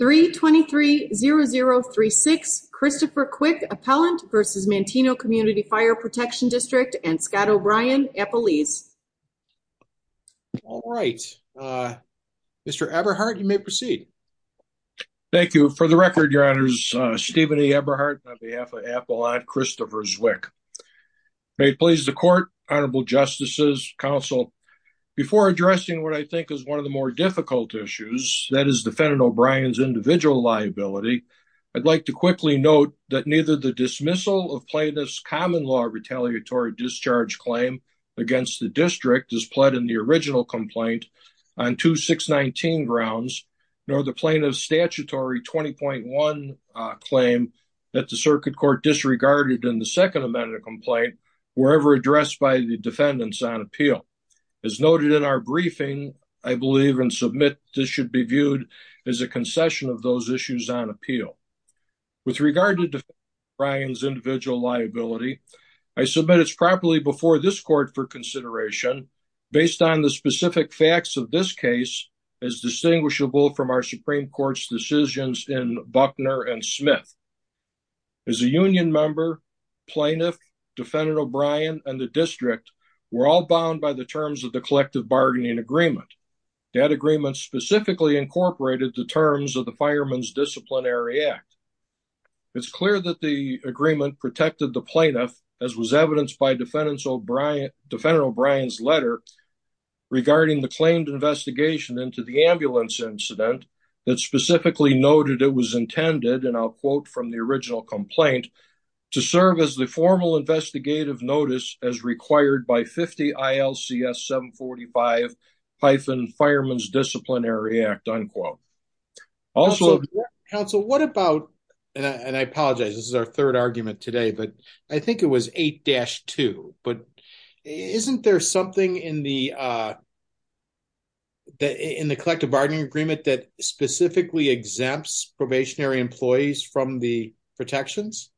323-0036 Christopher Cwik, Appellant v. Manteno Community Fire Protection District and Scott O'Brien, Appellees. All right, Mr. Eberhardt, you may proceed. Thank you. For the record, Your Honors, Stephen E. Eberhardt on behalf of Appellate Christopher Zwick. May it please the Court, Honorable Justices, Counsel, Before addressing what I think is one of the more difficult issues, that is, Defendant O'Brien's individual liability, I'd like to quickly note that neither the dismissal of Plaintiff's common law retaliatory discharge claim against the District, as pled in the original complaint, on 2-619 grounds, nor the Plaintiff's statutory 20.1 claim that the Circuit Court disregarded in the second amended complaint, were ever addressed by the Defendants on appeal. As noted in our briefing, I believe and submit this should be viewed as a concession of those issues on appeal. With regard to Defendant O'Brien's individual liability, I submit it's properly before this Court for consideration, based on the specific facts of this case, as distinguishable from our Supreme Court's decisions in Buckner and Smith. As a union member, Plaintiff, Defendant O'Brien, and the District were all bound by the terms of the collective bargaining agreement. That agreement specifically incorporated the terms of the Fireman's Disciplinary Act. It's clear that the agreement protected the Plaintiff, as was evidenced by Defendant O'Brien's letter, regarding the claimed investigation into the ambulance incident, that specifically noted it was intended, and I'll quote from the original complaint, to serve as the formal investigative notice as required by 50 ILCS 745-Fireman's Disciplinary Act." Also- Council, what about, and I apologize, this is our third argument today, but I think it was 8-2, isn't there something in the collective bargaining agreement that specifically exempts probationary employees from the protections?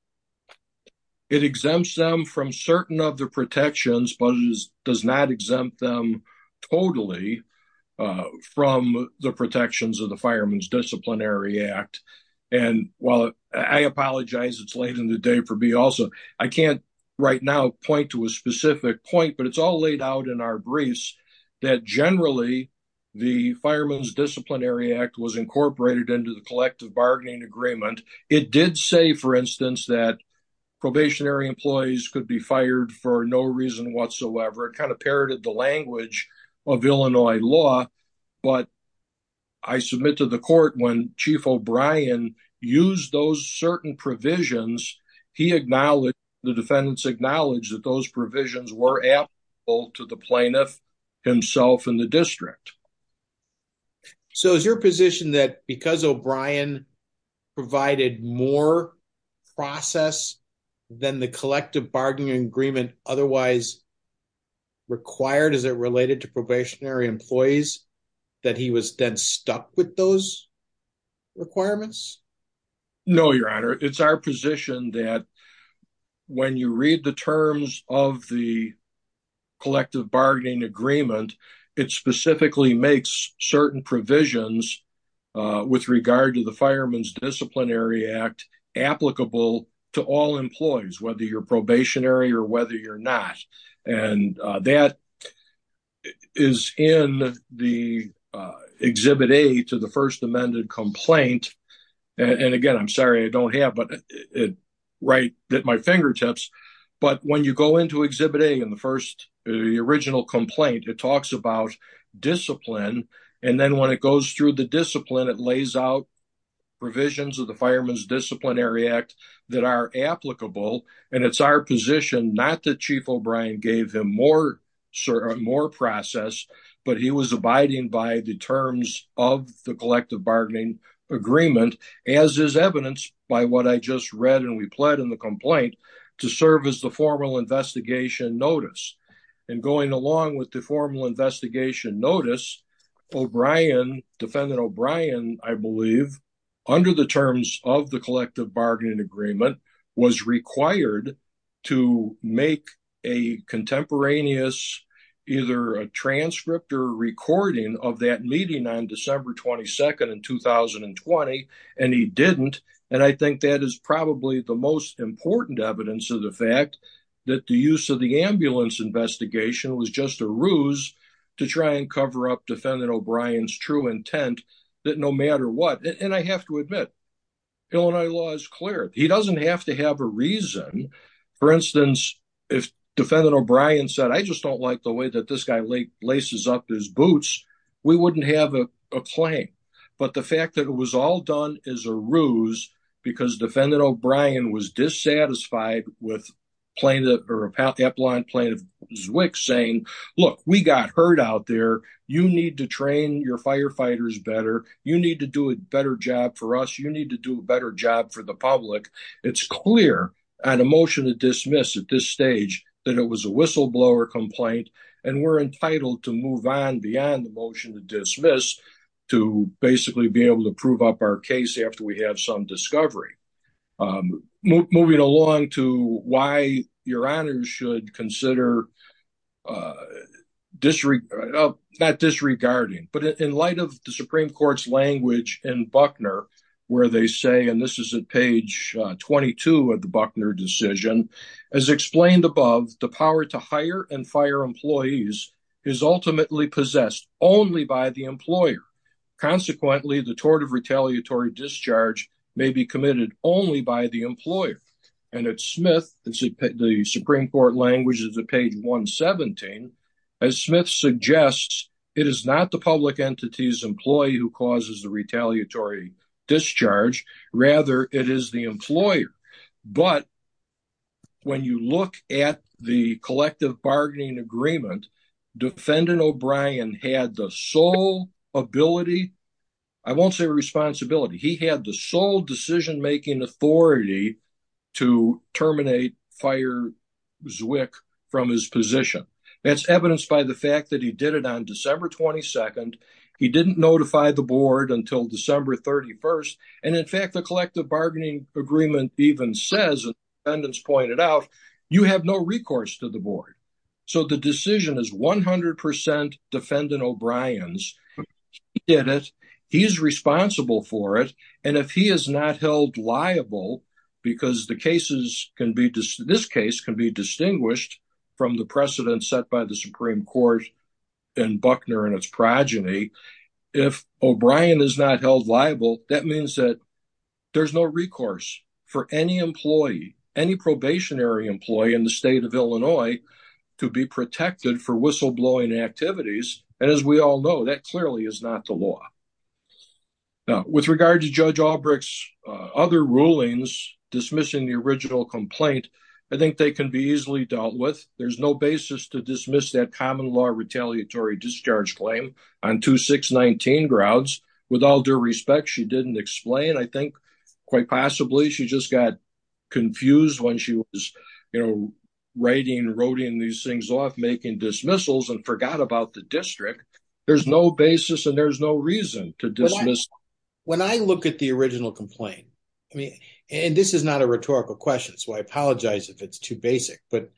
It exempts them from certain of the protections, but it does not exempt them totally from the protections of the Fireman's Disciplinary Act. And while I apologize it's late in the day for me also, I can't right now point to a specific point, but it's all laid out in our briefs that generally the Fireman's Disciplinary Act was incorporated into the collective bargaining agreement. It did say, for instance, that probationary employees could be fired for no reason whatsoever. It kind of parroted the language of Illinois law, but I submit to the court when Chief O'Brien used those certain provisions, he acknowledged, the defendants acknowledged that those provisions were applicable to the plaintiff himself and the district. So is your position that because O'Brien provided more process than the collective bargaining agreement otherwise required, is it related to probationary employees, that he was then stuck with those requirements? No, Your Honor. It's our position that when you read the terms of the collective bargaining agreement, it specifically makes certain provisions with regard to the Fireman's Disciplinary Act applicable to all employees, whether you're probationary or whether you're not. And that is in the Exhibit A to the first amended complaint. And again, I'm sorry, I don't have it right at my fingertips. But when you go into Exhibit A in the first, the original complaint, it talks about discipline. And then when it goes through the discipline, it lays out provisions of the Fireman's Disciplinary Act that are applicable. And it's our position, not that Chief O'Brien gave him more process, but he was abiding by the terms of the collective bargaining agreement, as is evidenced by what I just read, and we pled in the complaint, to serve as the formal investigation notice. And going along with the formal investigation notice, O'Brien, defendant O'Brien, I believe, under the terms of the collective bargaining agreement, was required to make a contemporaneous, either a transcript or recording of that meeting on December 22nd in 2020, and he didn't. And I think that is probably the most important evidence of the fact that the use of the ambulance investigation was just a ruse to try and cover up defendant O'Brien's true intent that no matter what. And I have to admit, Illinois law is clear. He doesn't have to have a reason. For instance, if defendant O'Brien said, I just don't like the way that this guy laces up his boots, we wouldn't have a claim. But the fact that it was all done is a ruse because defendant O'Brien was dissatisfied with plaintiff, plaintiff Zwick saying, look, we got hurt out there. You need to train your firefighters better. You need to do a better job for us. You need to do a better job for the public. It's clear on a motion to dismiss at this stage that it was a whistleblower complaint, and we're entitled to move on beyond the motion to dismiss to basically be able to prove up our case after we have some discovery. Moving along to why your honor should consider disregard, not disregarding, but in light of the Supreme Court's language in Buckner where they say, and this is at page 22 of the Buckner decision, as explained above, the power to hire and fire employees is ultimately possessed only by the employer. Consequently, the tort of retaliatory discharge may be committed only by the employer. And at Smith, the Supreme Court language is at page 117. As Smith suggests, it is not the public entity's employee who causes the retaliatory discharge. Rather, it is the employer. But when you look at the collective bargaining agreement, defendant O'Brien had the sole ability. I won't say responsibility. He had the sole decision-making authority to terminate fire Zwick from his position. That's evidenced by the fact that he did it on December 22nd. He didn't notify the board until December 31st. And in fact, the collective bargaining agreement even says, as the defendants pointed out, you have no recourse to the board. So the decision is 100% defendant O'Brien's. He did it. He is responsible for it. And if he is not held liable, because the cases can be, this case can be distinguished from the precedent set by the Supreme Court in Buckner and its progeny. If O'Brien is not held liable, that means that there's no recourse for any employee, any probationary employee in the state of Illinois to be protected for whistleblowing activities. And as we all know, that clearly is not the law. Now, with regard to Judge Albrecht's other rulings dismissing the original complaint, I think they can be easily dealt with. There's no basis to dismiss that common law retaliatory discharge claim on 2619 grounds. With all due respect, she didn't explain. I think quite possibly she just got confused when she was writing, writing these things off, making dismissals and forgot about the district. There's no basis and there's no reason to dismiss. When I look at the original complaint, I mean, and this is not a rhetorical question, so I apologize if it's too basic, but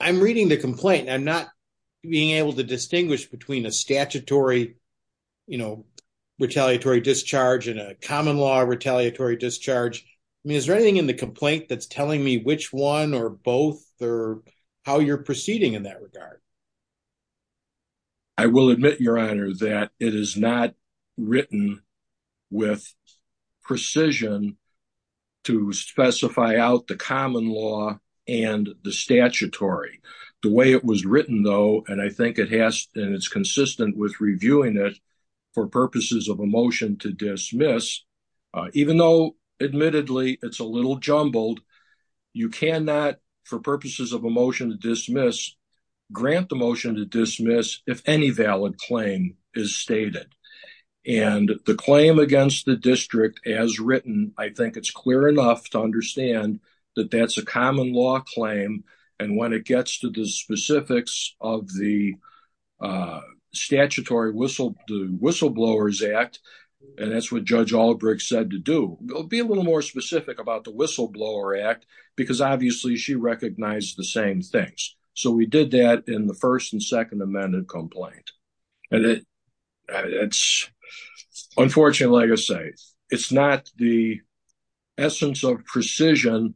I'm reading the complaint. I'm not being able to distinguish between a statutory, you know, retaliatory discharge and a common law retaliatory discharge. I mean, is there anything in the complaint that's telling me which one or both or how you're proceeding in that regard? I will admit, Your Honor, that it is not written with precision to specify out the common law and the statutory. The way it was written, though, and I think it has and it's consistent with reviewing it for purposes of a motion to dismiss. Even though, admittedly, it's a little jumbled, you cannot, for purposes of a motion to dismiss, grant the motion to dismiss if any valid claim is stated. And the claim against the district as written, I think it's clear enough to understand that that's a common law claim. And when it gets to the specifics of the statutory whistleblowers act, and that's what Judge Albrecht said to do, be a little more specific about the whistleblower act, because obviously she recognized the same things. So we did that in the First and Second Amendment complaint. And it's unfortunate, like I say, it's not the essence of precision.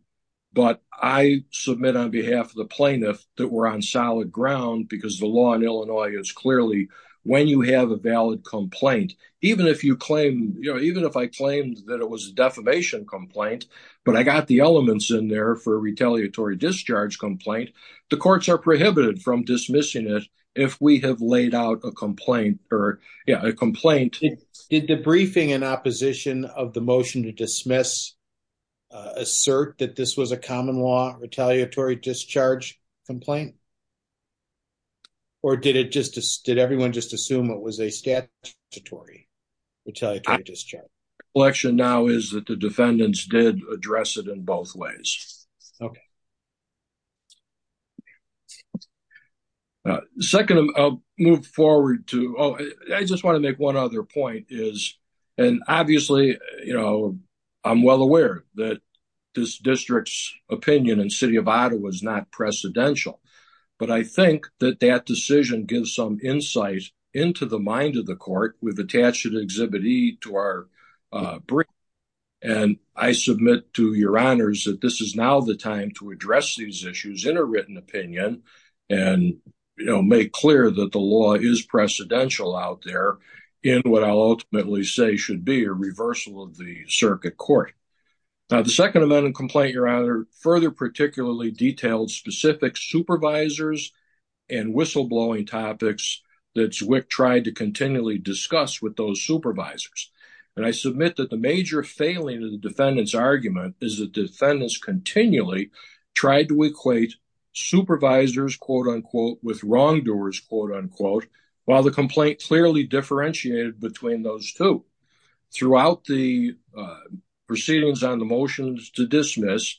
But I submit on behalf of the plaintiff that we're on solid ground because the law in Illinois is clearly when you have a valid complaint, even if you claim, you know, even if I claimed that it was a defamation complaint, but I got the elements in there for a retaliatory discharge complaint, the courts are prohibited from dismissing it if we have laid out a complaint. Did the briefing in opposition of the motion to dismiss assert that this was a common law retaliatory discharge complaint? Or did everyone just assume it was a statutory retaliatory discharge? My recollection now is that the defendants did address it in both ways. Second, I'll move forward to, oh, I just want to make one other point is, and obviously, you know, I'm well aware that this district's opinion in City of Ottawa is not precedential. But I think that that decision gives some insight into the mind of the court. We've attached an Exhibit E to our brief. And I submit to your honors that this is now the time to address these issues in a written opinion. And, you know, make clear that the law is precedential out there in what I'll ultimately say should be a reversal of the circuit court. Now, the second amendment complaint, your honor, further particularly detailed specific supervisors and whistleblowing topics that Zwick tried to continually discuss with those supervisors. And I submit that the major failing of the defendant's argument is that defendants continually tried to equate supervisors, quote unquote, with wrongdoers, quote unquote, while the complaint clearly differentiated between those two. Throughout the proceedings on the motions to dismiss,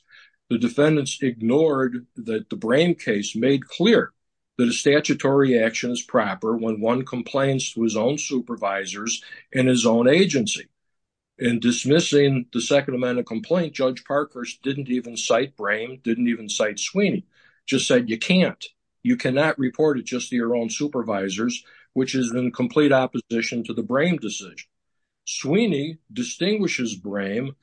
the defendants ignored that the Brame case made clear that a statutory action is proper when one complains to his own supervisors in his own agency. In dismissing the second amendment complaint, Judge Parkhurst didn't even cite Brame, didn't even cite Sweeney, just said you can't. You cannot report it just to your own supervisors, which is in complete opposition to the Brame decision. Sweeney distinguishes Brame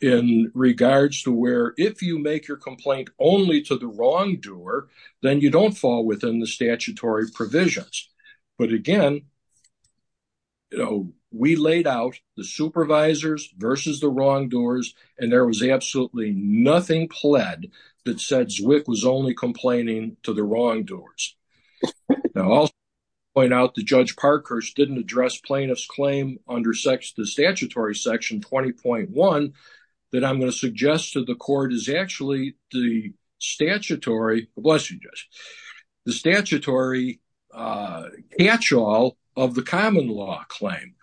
in regards to where if you make your complaint only to the wrongdoer, then you don't fall within the statutory provisions. But again, you know, we laid out the supervisors versus the wrongdoers, and there was absolutely nothing pled that said Zwick was only complaining to the wrongdoers. Now, I'll point out that Judge Parkhurst didn't address plaintiff's claim under the statutory section 20.1 that I'm going to suggest to the court is actually the statutory catch-all of the common law claim.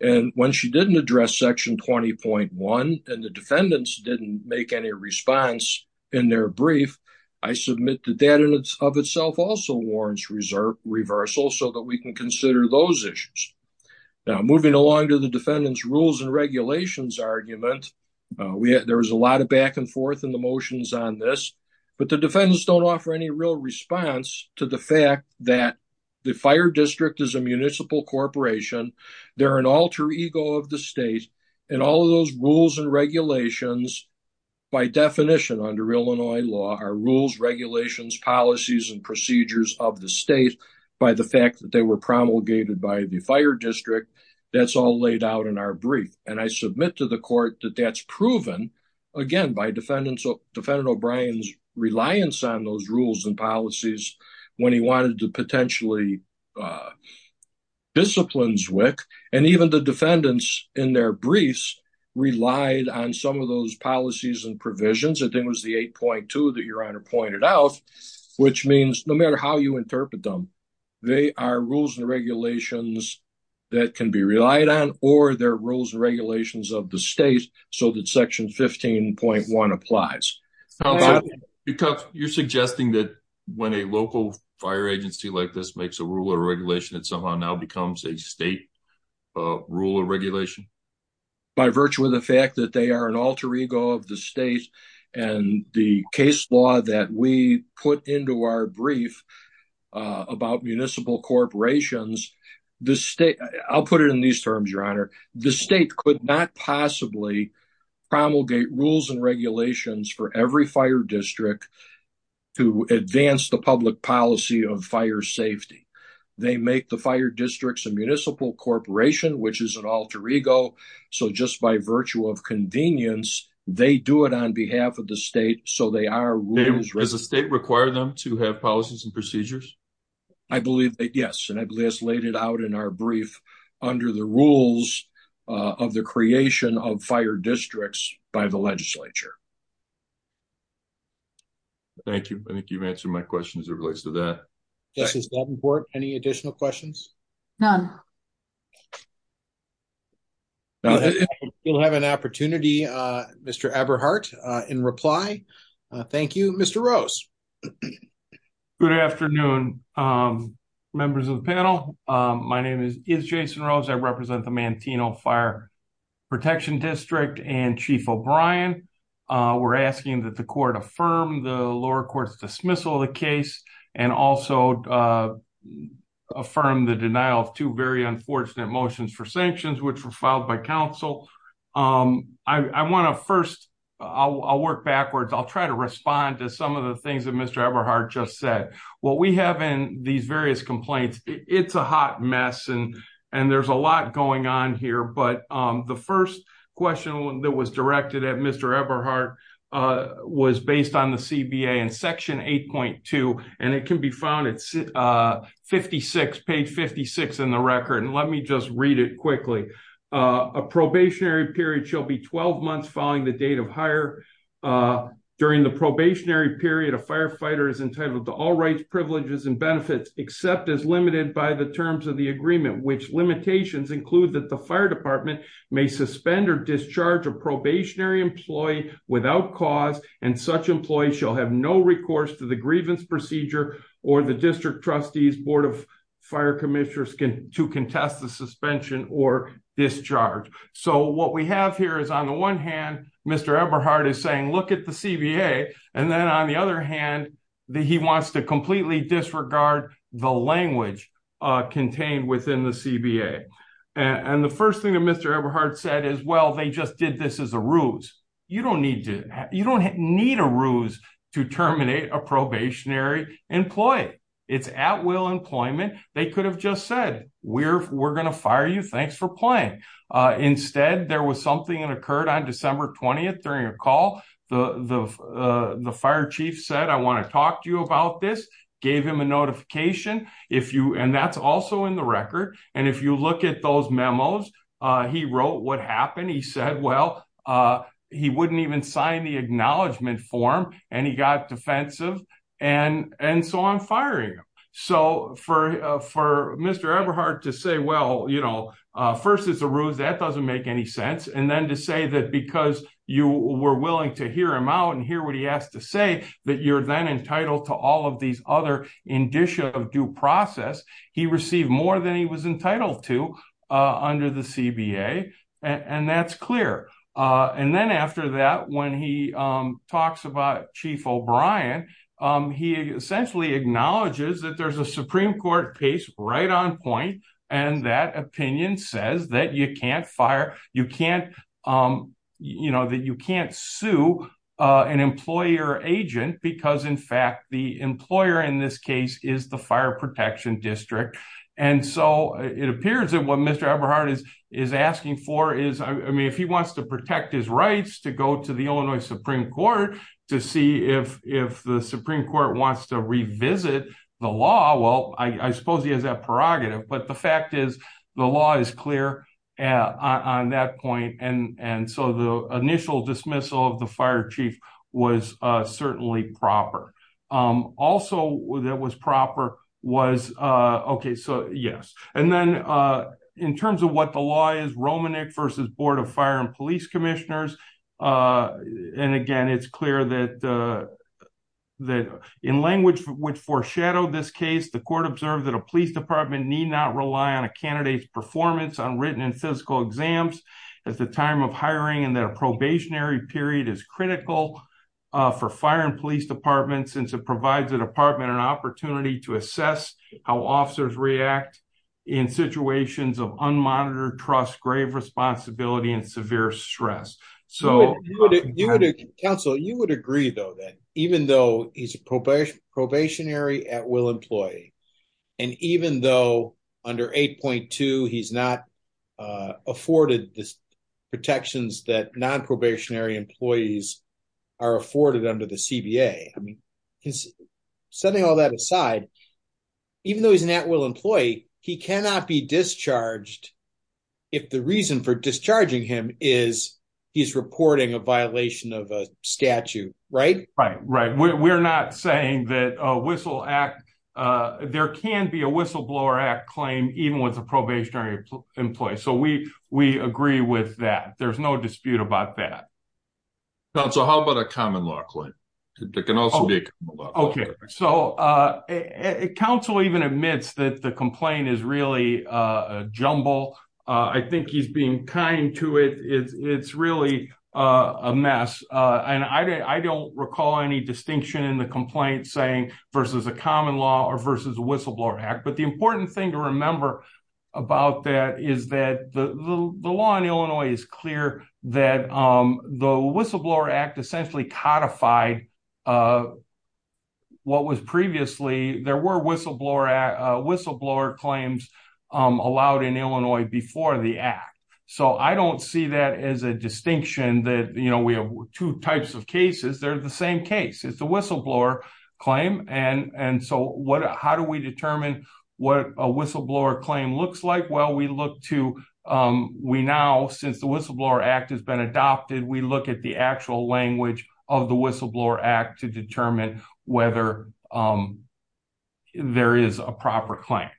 And when she didn't address section 20.1 and the defendants didn't make any response in their brief, I submit that that in and of itself also warrants reversal so that we can consider those issues. Now, moving along to the defendant's rules and regulations argument, there was a lot of back and forth in the motions on this, but the defendants don't offer any real response to the fact that the fire district is a municipal corporation. They're an alter ego of the state, and all of those rules and regulations, by definition under Illinois law, are rules, regulations, policies, and procedures of the state by the fact that they were promulgated by the fire district. That's all laid out in our brief, and I submit to the court that that's proven, again, by Defendant O'Brien's reliance on those rules and policies when he wanted to potentially discipline Zwick. And even the defendants in their briefs relied on some of those policies and provisions. I think it was the 8.2 that Your Honor pointed out, which means no matter how you interpret them, they are rules and regulations that can be relied on or they're rules and regulations of the state so that Section 15.1 applies. Counsel, you're suggesting that when a local fire agency like this makes a rule or regulation, it somehow now becomes a state rule or regulation? By virtue of the fact that they are an alter ego of the state and the case law that we put into our brief about municipal corporations, I'll put it in these terms, Your Honor. The state could not possibly promulgate rules and regulations for every fire district to advance the public policy of fire safety. They make the fire districts a municipal corporation, which is an alter ego. So just by virtue of convenience, they do it on behalf of the state. So they are rules. Does the state require them to have policies and procedures? I believe that, yes, and I believe it's laid out in our brief under the rules of the creation of fire districts by the legislature. Thank you. I think you've answered my question as it relates to that. Yes, is that important? Any additional questions? None. We'll have an opportunity, Mr. Eberhardt, in reply. Thank you. Mr. Rose. Good afternoon, members of the panel. My name is Jason Rose. I represent the Mantino Fire Protection District and Chief O'Brien. We're asking that the court affirm the lower court's dismissal of the case and also affirm the denial of two very unfortunate motions for sanctions, which were filed by counsel. I want to first, I'll work backwards. I'll try to respond to some of the things that Mr. Eberhardt just said. What we have in these various complaints, it's a hot mess and there's a lot going on here. But the first question that was directed at Mr. Eberhardt was based on the CBA and Section 8.2, and it can be found at 56, page 56 in the record. And let me just read it quickly. A probationary period shall be 12 months following the date of hire. During the probationary period, a firefighter is entitled to all rights, privileges and benefits, except as limited by the terms of the agreement, which limitations include that the fire department may suspend or discharge a probationary employee without cause, and such employees shall have no recourse to the grievance procedure or the district trustee's board of fire commissioners to contest the suspension or discharge. So what we have here is on the one hand, Mr. Eberhardt is saying, look at the CBA. And then on the other hand, he wants to completely disregard the language contained within the CBA. And the first thing that Mr. Eberhardt said is, well, they just did this as a ruse. You don't need to you don't need a ruse to terminate a probationary employee. It's at will employment. They could have just said we're we're going to fire you. Thanks for playing. Instead, there was something that occurred on December 20th during a call. The fire chief said, I want to talk to you about this, gave him a notification. If you and that's also in the record. And if you look at those memos, he wrote what happened. He said, well, he wouldn't even sign the acknowledgement form. And he got defensive. And and so I'm firing him. So for for Mr. Eberhardt to say, well, you know, first, it's a ruse that doesn't make any sense. And then to say that because you were willing to hear him out and hear what he has to say, that you're then entitled to all of these other indicia of due process. He received more than he was entitled to under the CBA. And that's clear. And then after that, when he talks about Chief O'Brien, he essentially acknowledges that there's a Supreme Court case right on point. And that opinion says that you can't fire. You can't you know that you can't sue an employer agent because, in fact, the employer in this case is the Fire Protection District. And so it appears that what Mr. Eberhardt is is asking for is, I mean, if he wants to protect his rights to go to the Illinois Supreme Court to see if if the Supreme Court wants to revisit the law. Well, I suppose he has that prerogative. But the fact is, the law is clear on that point. And so the initial dismissal of the fire chief was certainly proper. Also, that was proper was. OK, so, yes. And then in terms of what the law is, Romanek versus Board of Fire and Police Commissioners. And again, it's clear that that in language which foreshadowed this case, the court observed that a police department need not rely on a candidate's performance on written and physical exams at the time of hiring. And then a probationary period is critical for fire and police departments since it provides the department an opportunity to assess how officers react in situations of unmonitored trust, grave responsibility and severe stress. So, counsel, you would agree, though, that even though he's a probationary at will employee, and even though under 8.2, he's not afforded the protections that non-probationary employees are afforded under the CBA. Setting all that aside, even though he's an at will employee, he cannot be discharged if the reason for discharging him is he's reporting a violation of a statute, right? Right, right. We're not saying that a whistle act, there can be a whistleblower act claim even with a probationary employee. So we we agree with that. There's no dispute about that. So how about a common law claim? OK, so counsel even admits that the complaint is really a jumble. I think he's being kind to it. It's really a mess. And I don't recall any distinction in the complaint saying versus a common law or versus a whistleblower act. But the important thing to remember about that is that the law in Illinois is clear that the whistleblower act essentially codified. What was previously there were whistleblower whistleblower claims allowed in Illinois before the act. So I don't see that as a distinction that we have two types of cases. They're the same case. It's a whistleblower claim. And and so what how do we determine what a whistleblower claim looks like? Well, we look to we now since the whistleblower act has been adopted, we look at the actual language of the whistleblower act to determine whether there is a proper claim.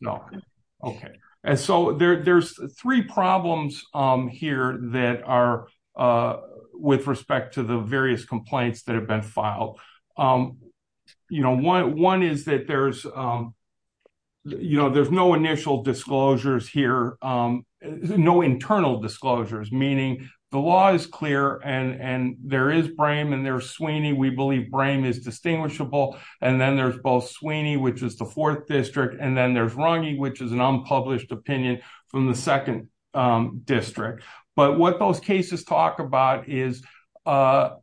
No. OK. And so there's three problems here that are with respect to the various complaints that have been filed. You know, one one is that there's, you know, there's no initial disclosures here. No internal disclosures, meaning the law is clear and there is Brame and there's Sweeney. We believe Brame is distinguishable. And then there's both Sweeney, which is the fourth district. And then there's Runge, which is an unpublished opinion from the second district. But what those cases talk about is under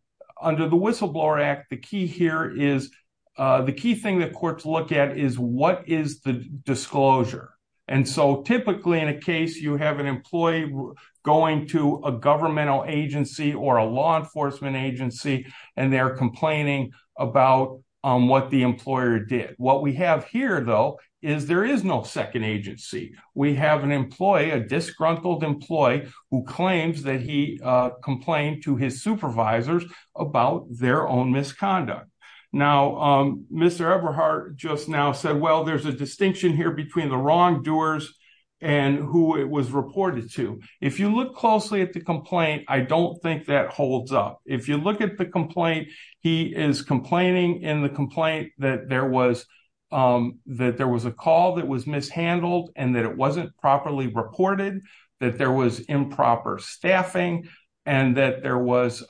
the whistleblower act. The key here is the key thing that courts look at is what is the disclosure? And so typically in a case you have an employee going to a governmental agency or a law enforcement agency and they're complaining about what the employer did. What we have here, though, is there is no second agency. We have an employee, a disgruntled employee who claims that he complained to his supervisors about their own misconduct. Now, Mr. Everhart just now said, well, there's a distinction here between the wrongdoers and who it was reported to. If you look closely at the complaint, I don't think that holds up. If you look at the complaint, he is complaining in the complaint that there was that there was a call that was mishandled and that it wasn't properly reported, that there was improper staffing and that there was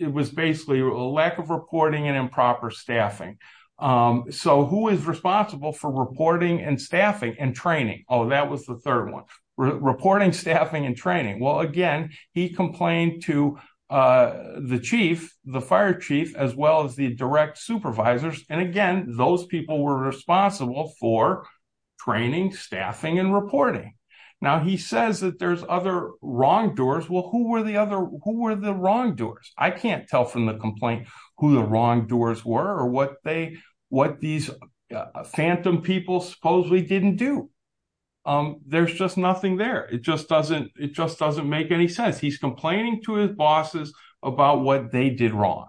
it was basically a lack of reporting and improper staffing. So who is responsible for reporting and staffing and training? Oh, that was the third one. Reporting, staffing and training. Well, again, he complained to the chief, the fire chief, as well as the direct supervisors. And again, those people were responsible for training, staffing and reporting. Now, he says that there's other wrongdoers. Well, who were the other who were the wrongdoers? I can't tell from the complaint who the wrongdoers were or what they what these phantom people supposedly didn't do. There's just nothing there. It just doesn't it just doesn't make any sense. He's complaining to his bosses about what they did wrong.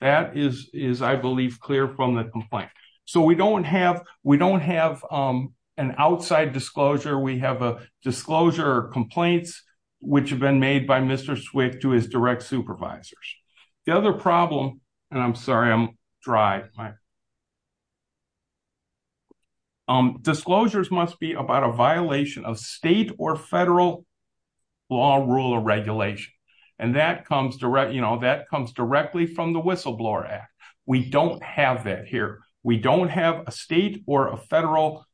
That is, is, I believe, clear from the complaint. So we don't have we don't have an outside disclosure. We have a disclosure complaints which have been made by Mr. Swift to his direct supervisors. The other problem and I'm sorry, I'm dry. Disclosures must be about a violation of state or federal law, rule or regulation. And that comes direct, you know, that comes directly from the Whistleblower Act. We don't have that here. We don't have a state or a federal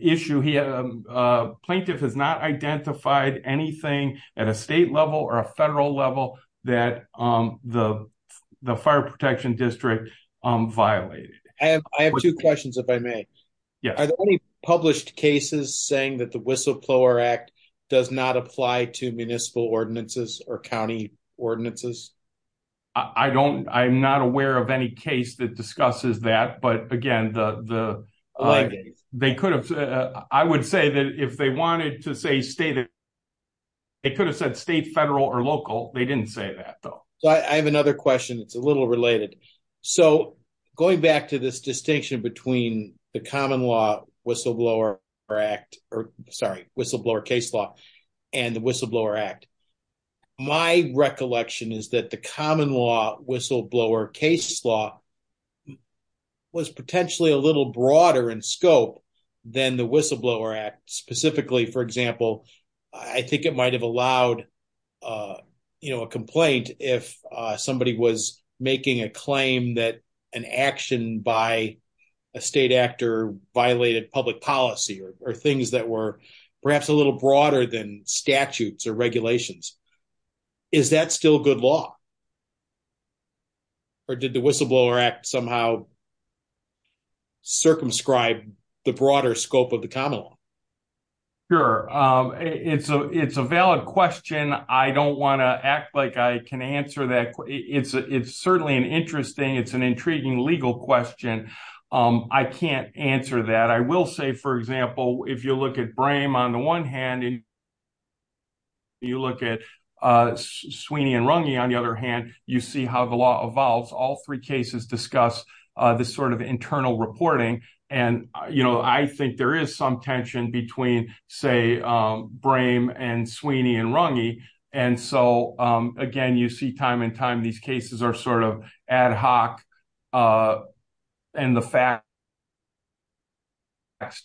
issue. He had a plaintiff has not identified anything at a state level or a federal level that the fire protection district violated. I have 2 questions if I may. Yeah, I published cases saying that the whistleblower act does not apply to municipal ordinances or county ordinances. I don't I'm not aware of any case that discusses that, but again, the, they could have I would say that if they wanted to say state. It could have said state, federal or local. They didn't say that though. I have another question. It's a little related. So, going back to this distinction between the common law whistleblower or act, or sorry, whistleblower case law and the whistleblower act. My recollection is that the common law whistleblower case law. Was potentially a little broader in scope. Than the whistleblower act specifically, for example, I think it might have allowed. Uh, you know, a complaint if somebody was making a claim that an action by. A state actor violated public policy or things that were perhaps a little broader than statutes or regulations. Is that still good law or did the whistleblower act somehow. Circumscribe the broader scope of the common law. Sure, it's a, it's a valid question. I don't want to act like I can answer that. It's certainly an interesting. It's an intriguing legal question. I can't answer that. I will say, for example, if you look at brain on the 1 hand and. You look at Sweeney and Rungy on the other hand, you see how the law evolves all 3 cases discuss this sort of internal reporting. And, you know, I think there is some tension between, say, brain and Sweeney and Rungy. And so, again, you see time and time. These cases are sort of ad hoc. And the fact.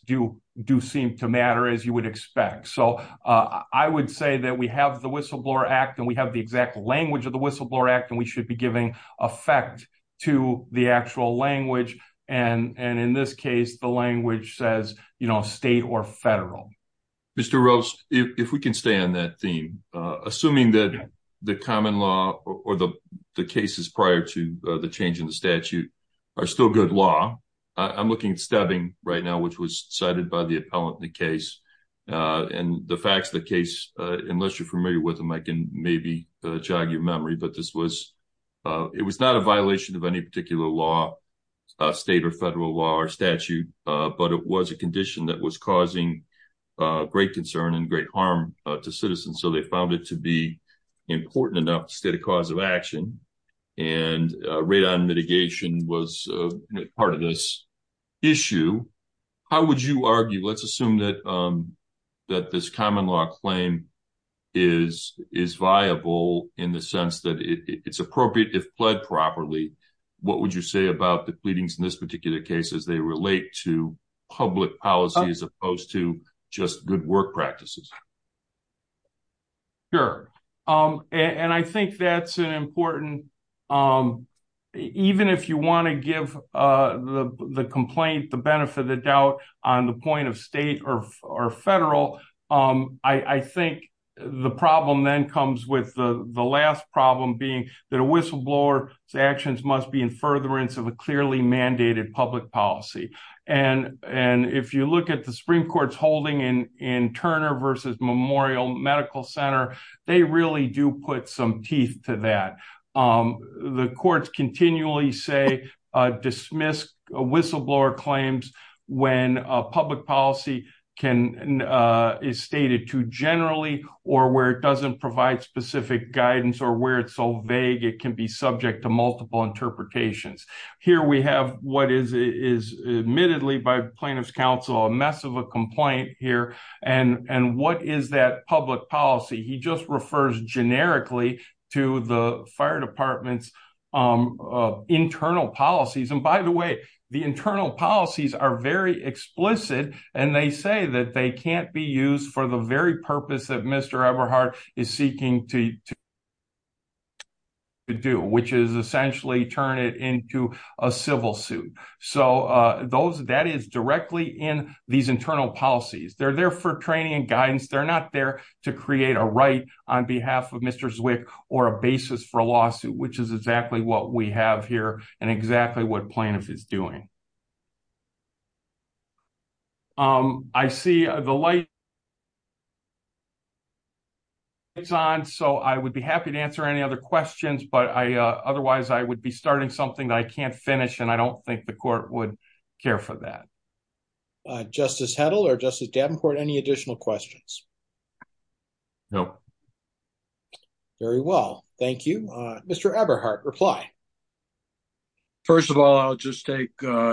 Do do seem to matter as you would expect. So I would say that we have the whistleblower act, and we have the exact language of the whistleblower act, and we should be giving effect to the actual language. And and in this case, the language says, you know, state or federal. Mr. Rose, if we can stay on that theme, assuming that the common law, or the cases prior to the change in the statute. Are still good law I'm looking at stabbing right now, which was cited by the appellate in the case. And the facts of the case, unless you're familiar with them, I can maybe jog your memory, but this was. It was not a violation of any particular law. State or federal law or statute, but it was a condition that was causing great concern and great harm to citizens. So they found it to be important enough state of cause of action. And rate on mitigation was part of this. Issue, how would you argue let's assume that. That this common law claim is is viable in the sense that it's appropriate if pled properly. What would you say about the pleadings in this particular case as they relate to public policy, as opposed to just good work practices. Sure. Um, and I think that's an important. Um, even if you want to give the complaint, the benefit of the doubt on the point of state or federal. I think the problem then comes with the last problem being that a whistleblower actions must be in furtherance of a clearly mandated public policy. And, and if you look at the Supreme Court's holding in in Turner versus Memorial Medical Center. They really do put some teeth to that. The courts continually say dismiss a whistleblower claims when a public policy can Is stated to generally or where it doesn't provide specific guidance or where it's so vague, it can be subject to multiple interpretations. Here we have what is is admittedly by plaintiff's counsel a mess of a complaint here and and what is that public policy. He just refers generically to the fire departments. Internal policies. And by the way, the internal policies are very explicit and they say that they can't be used for the very purpose that Mr. Everhart is seeking to To do, which is essentially turn it into a civil suit. So those that is directly in these internal policies. They're there for training and guidance. They're not there to create a right on behalf of Mr. Zwick or a basis for a lawsuit, which is exactly what we have here and exactly what plaintiff is doing. Um, I see the light. It's on. So I would be happy to answer any other questions, but I otherwise I would be starting something that I can't finish and I don't think the court would care for that. Justice Heddle or Justice Davenport any additional questions. No. Very well. Thank you, Mr. Everhart reply. First of all, I'll just take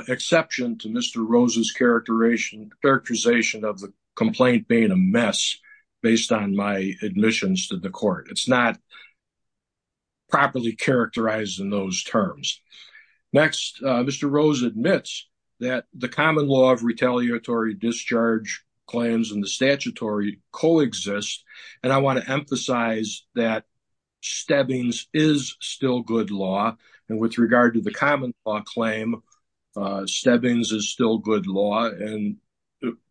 exception to Mr. Rose's characterization characterization of the complaint being a mess based on my admissions to the court. It's not And with regard to the common law claim steppings is still good law and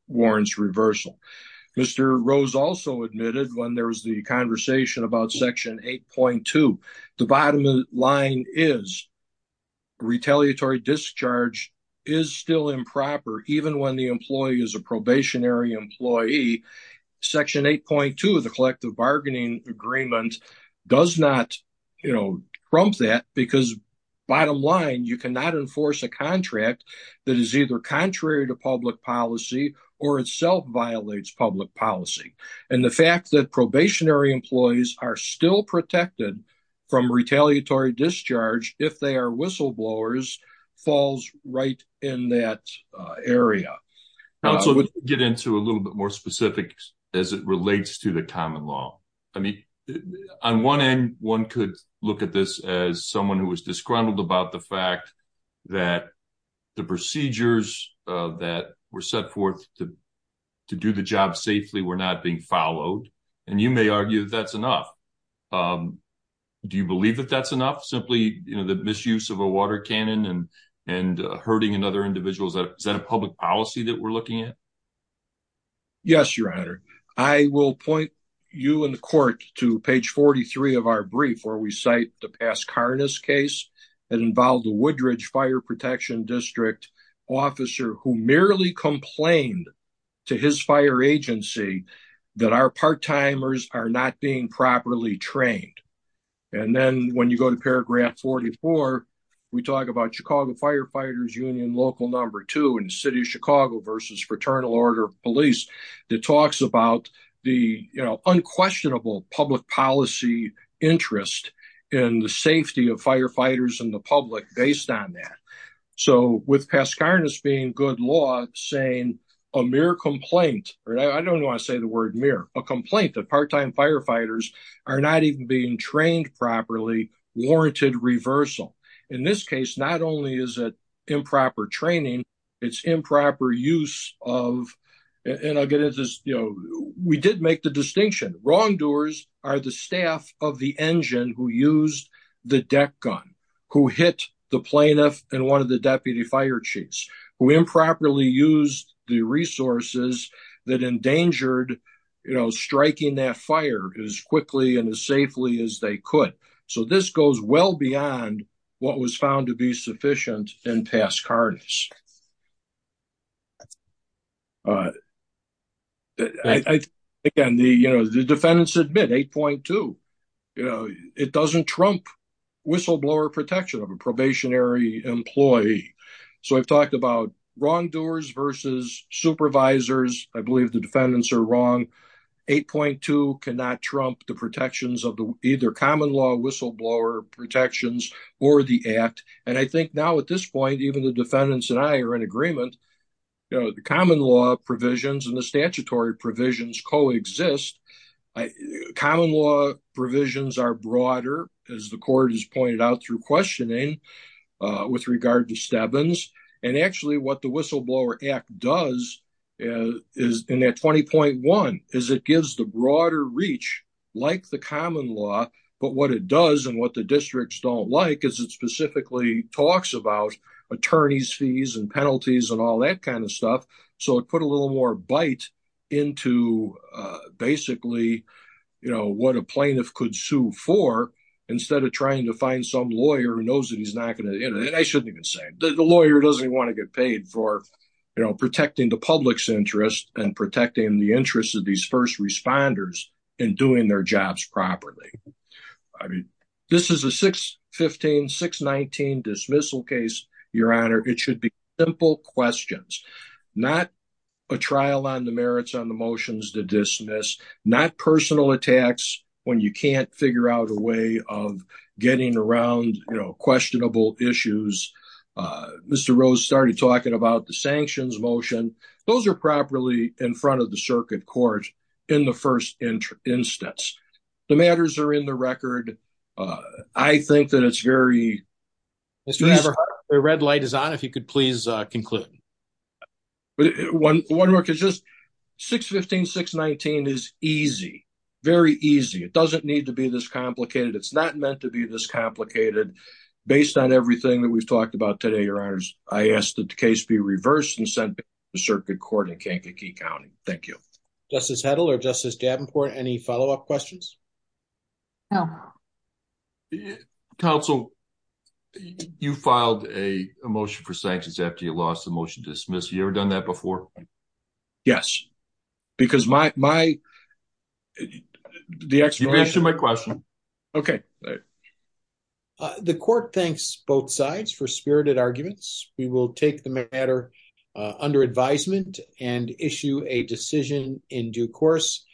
warrants reversal. Mr. Rose also admitted when there was the conversation about section 8.2. The bottom line is Retaliatory discharge is still improper. Even when the employee is a probationary employee section 8.2 of the collective bargaining agreement does not, you know, from that because bottom line, you cannot enforce a contract that is either contrary to public policy or itself violates public policy. And the fact that probationary employees are still protected from retaliatory discharge. If they are whistleblowers falls right in that area. Get into a little bit more specific as it relates to the common law. I mean, on one end, one could look at this as someone who was disgruntled about the fact that the procedures that were set forth to do the job safely. We're not being followed and you may argue that's enough. Do you believe that that's enough simply, you know, the misuse of a water cannon and and hurting and other individuals that is that a public policy that we're looking at? Yes, Your Honor. I will point you in the court to page 43 of our brief where we cite the past Karnas case that involved the Woodridge Fire Protection District officer who merely complained to his fire agency that our part-timers are not being properly trained. And then when you go to paragraph 44, we talk about Chicago Firefighters Union, local number two in the city of Chicago versus Fraternal Order of Police that talks about the unquestionable public policy interest in the safety of firefighters and the public based on that. So, with past Karnas being good law saying a mere complaint, I don't want to say the word mere, a complaint that part-time firefighters are not even being trained properly warranted reversal. In this case, not only is it improper training, it's improper use of, and I'll get into this, you know, we did make the distinction. Again, wrongdoers are the staff of the engine who used the deck gun, who hit the plaintiff and one of the deputy fire chiefs, who improperly used the resources that endangered, you know, striking that fire as quickly and as safely as they could. So this goes well beyond what was found to be sufficient in past Karnas. Again, the defendants admit 8.2, you know, it doesn't trump whistleblower protection of a probationary employee. So I've talked about wrongdoers versus supervisors. I believe the defendants are wrong. 8.2 cannot trump the protections of either common law whistleblower protections or the act. And I think now at this point, even the defendants and I are in agreement, you know, the common law provisions and the statutory provisions coexist. Common law provisions are broader, as the court has pointed out through questioning with regard to Stebbins. And actually what the Whistleblower Act does is in that 20.1 is it gives the broader reach like the common law, but what it does and what the districts don't like is it specifically talks about attorneys fees and penalties and all that kind of stuff. So it put a little more bite into basically, you know, what a plaintiff could sue for, instead of trying to find some lawyer who knows that he's not going to, you know, I shouldn't even say the lawyer doesn't want to get paid for, you know, protecting the public's interest and protecting the interests of these first responders in doing their jobs properly. I mean, this is a 615, 619 dismissal case, Your Honor. It should be simple questions, not a trial on the merits on the motions to dismiss, not personal attacks when you can't figure out a way of getting around, you know, questionable issues. Mr. Rose started talking about the sanctions motion. Those are properly in front of the circuit court in the first instance. The matters are in the record. I think that it's very... Mr. Weber, the red light is on. If you could please conclude. One more, because just 615, 619 is easy, very easy. It doesn't need to be this complicated. It's not meant to be this complicated. Based on everything that we've talked about today, Your Honors, I ask that the case be reversed and sent to the circuit court in Kankakee County. Thank you. Justice Hedl or Justice Davenport, any follow-up questions? No. Counsel, you filed a motion for sanctions after you lost the motion to dismiss. You ever done that before? Yes, because my... You've answered my question. Okay. The court thanks both sides for spirited arguments. We will take the matter under advisement and issue a decision in due course.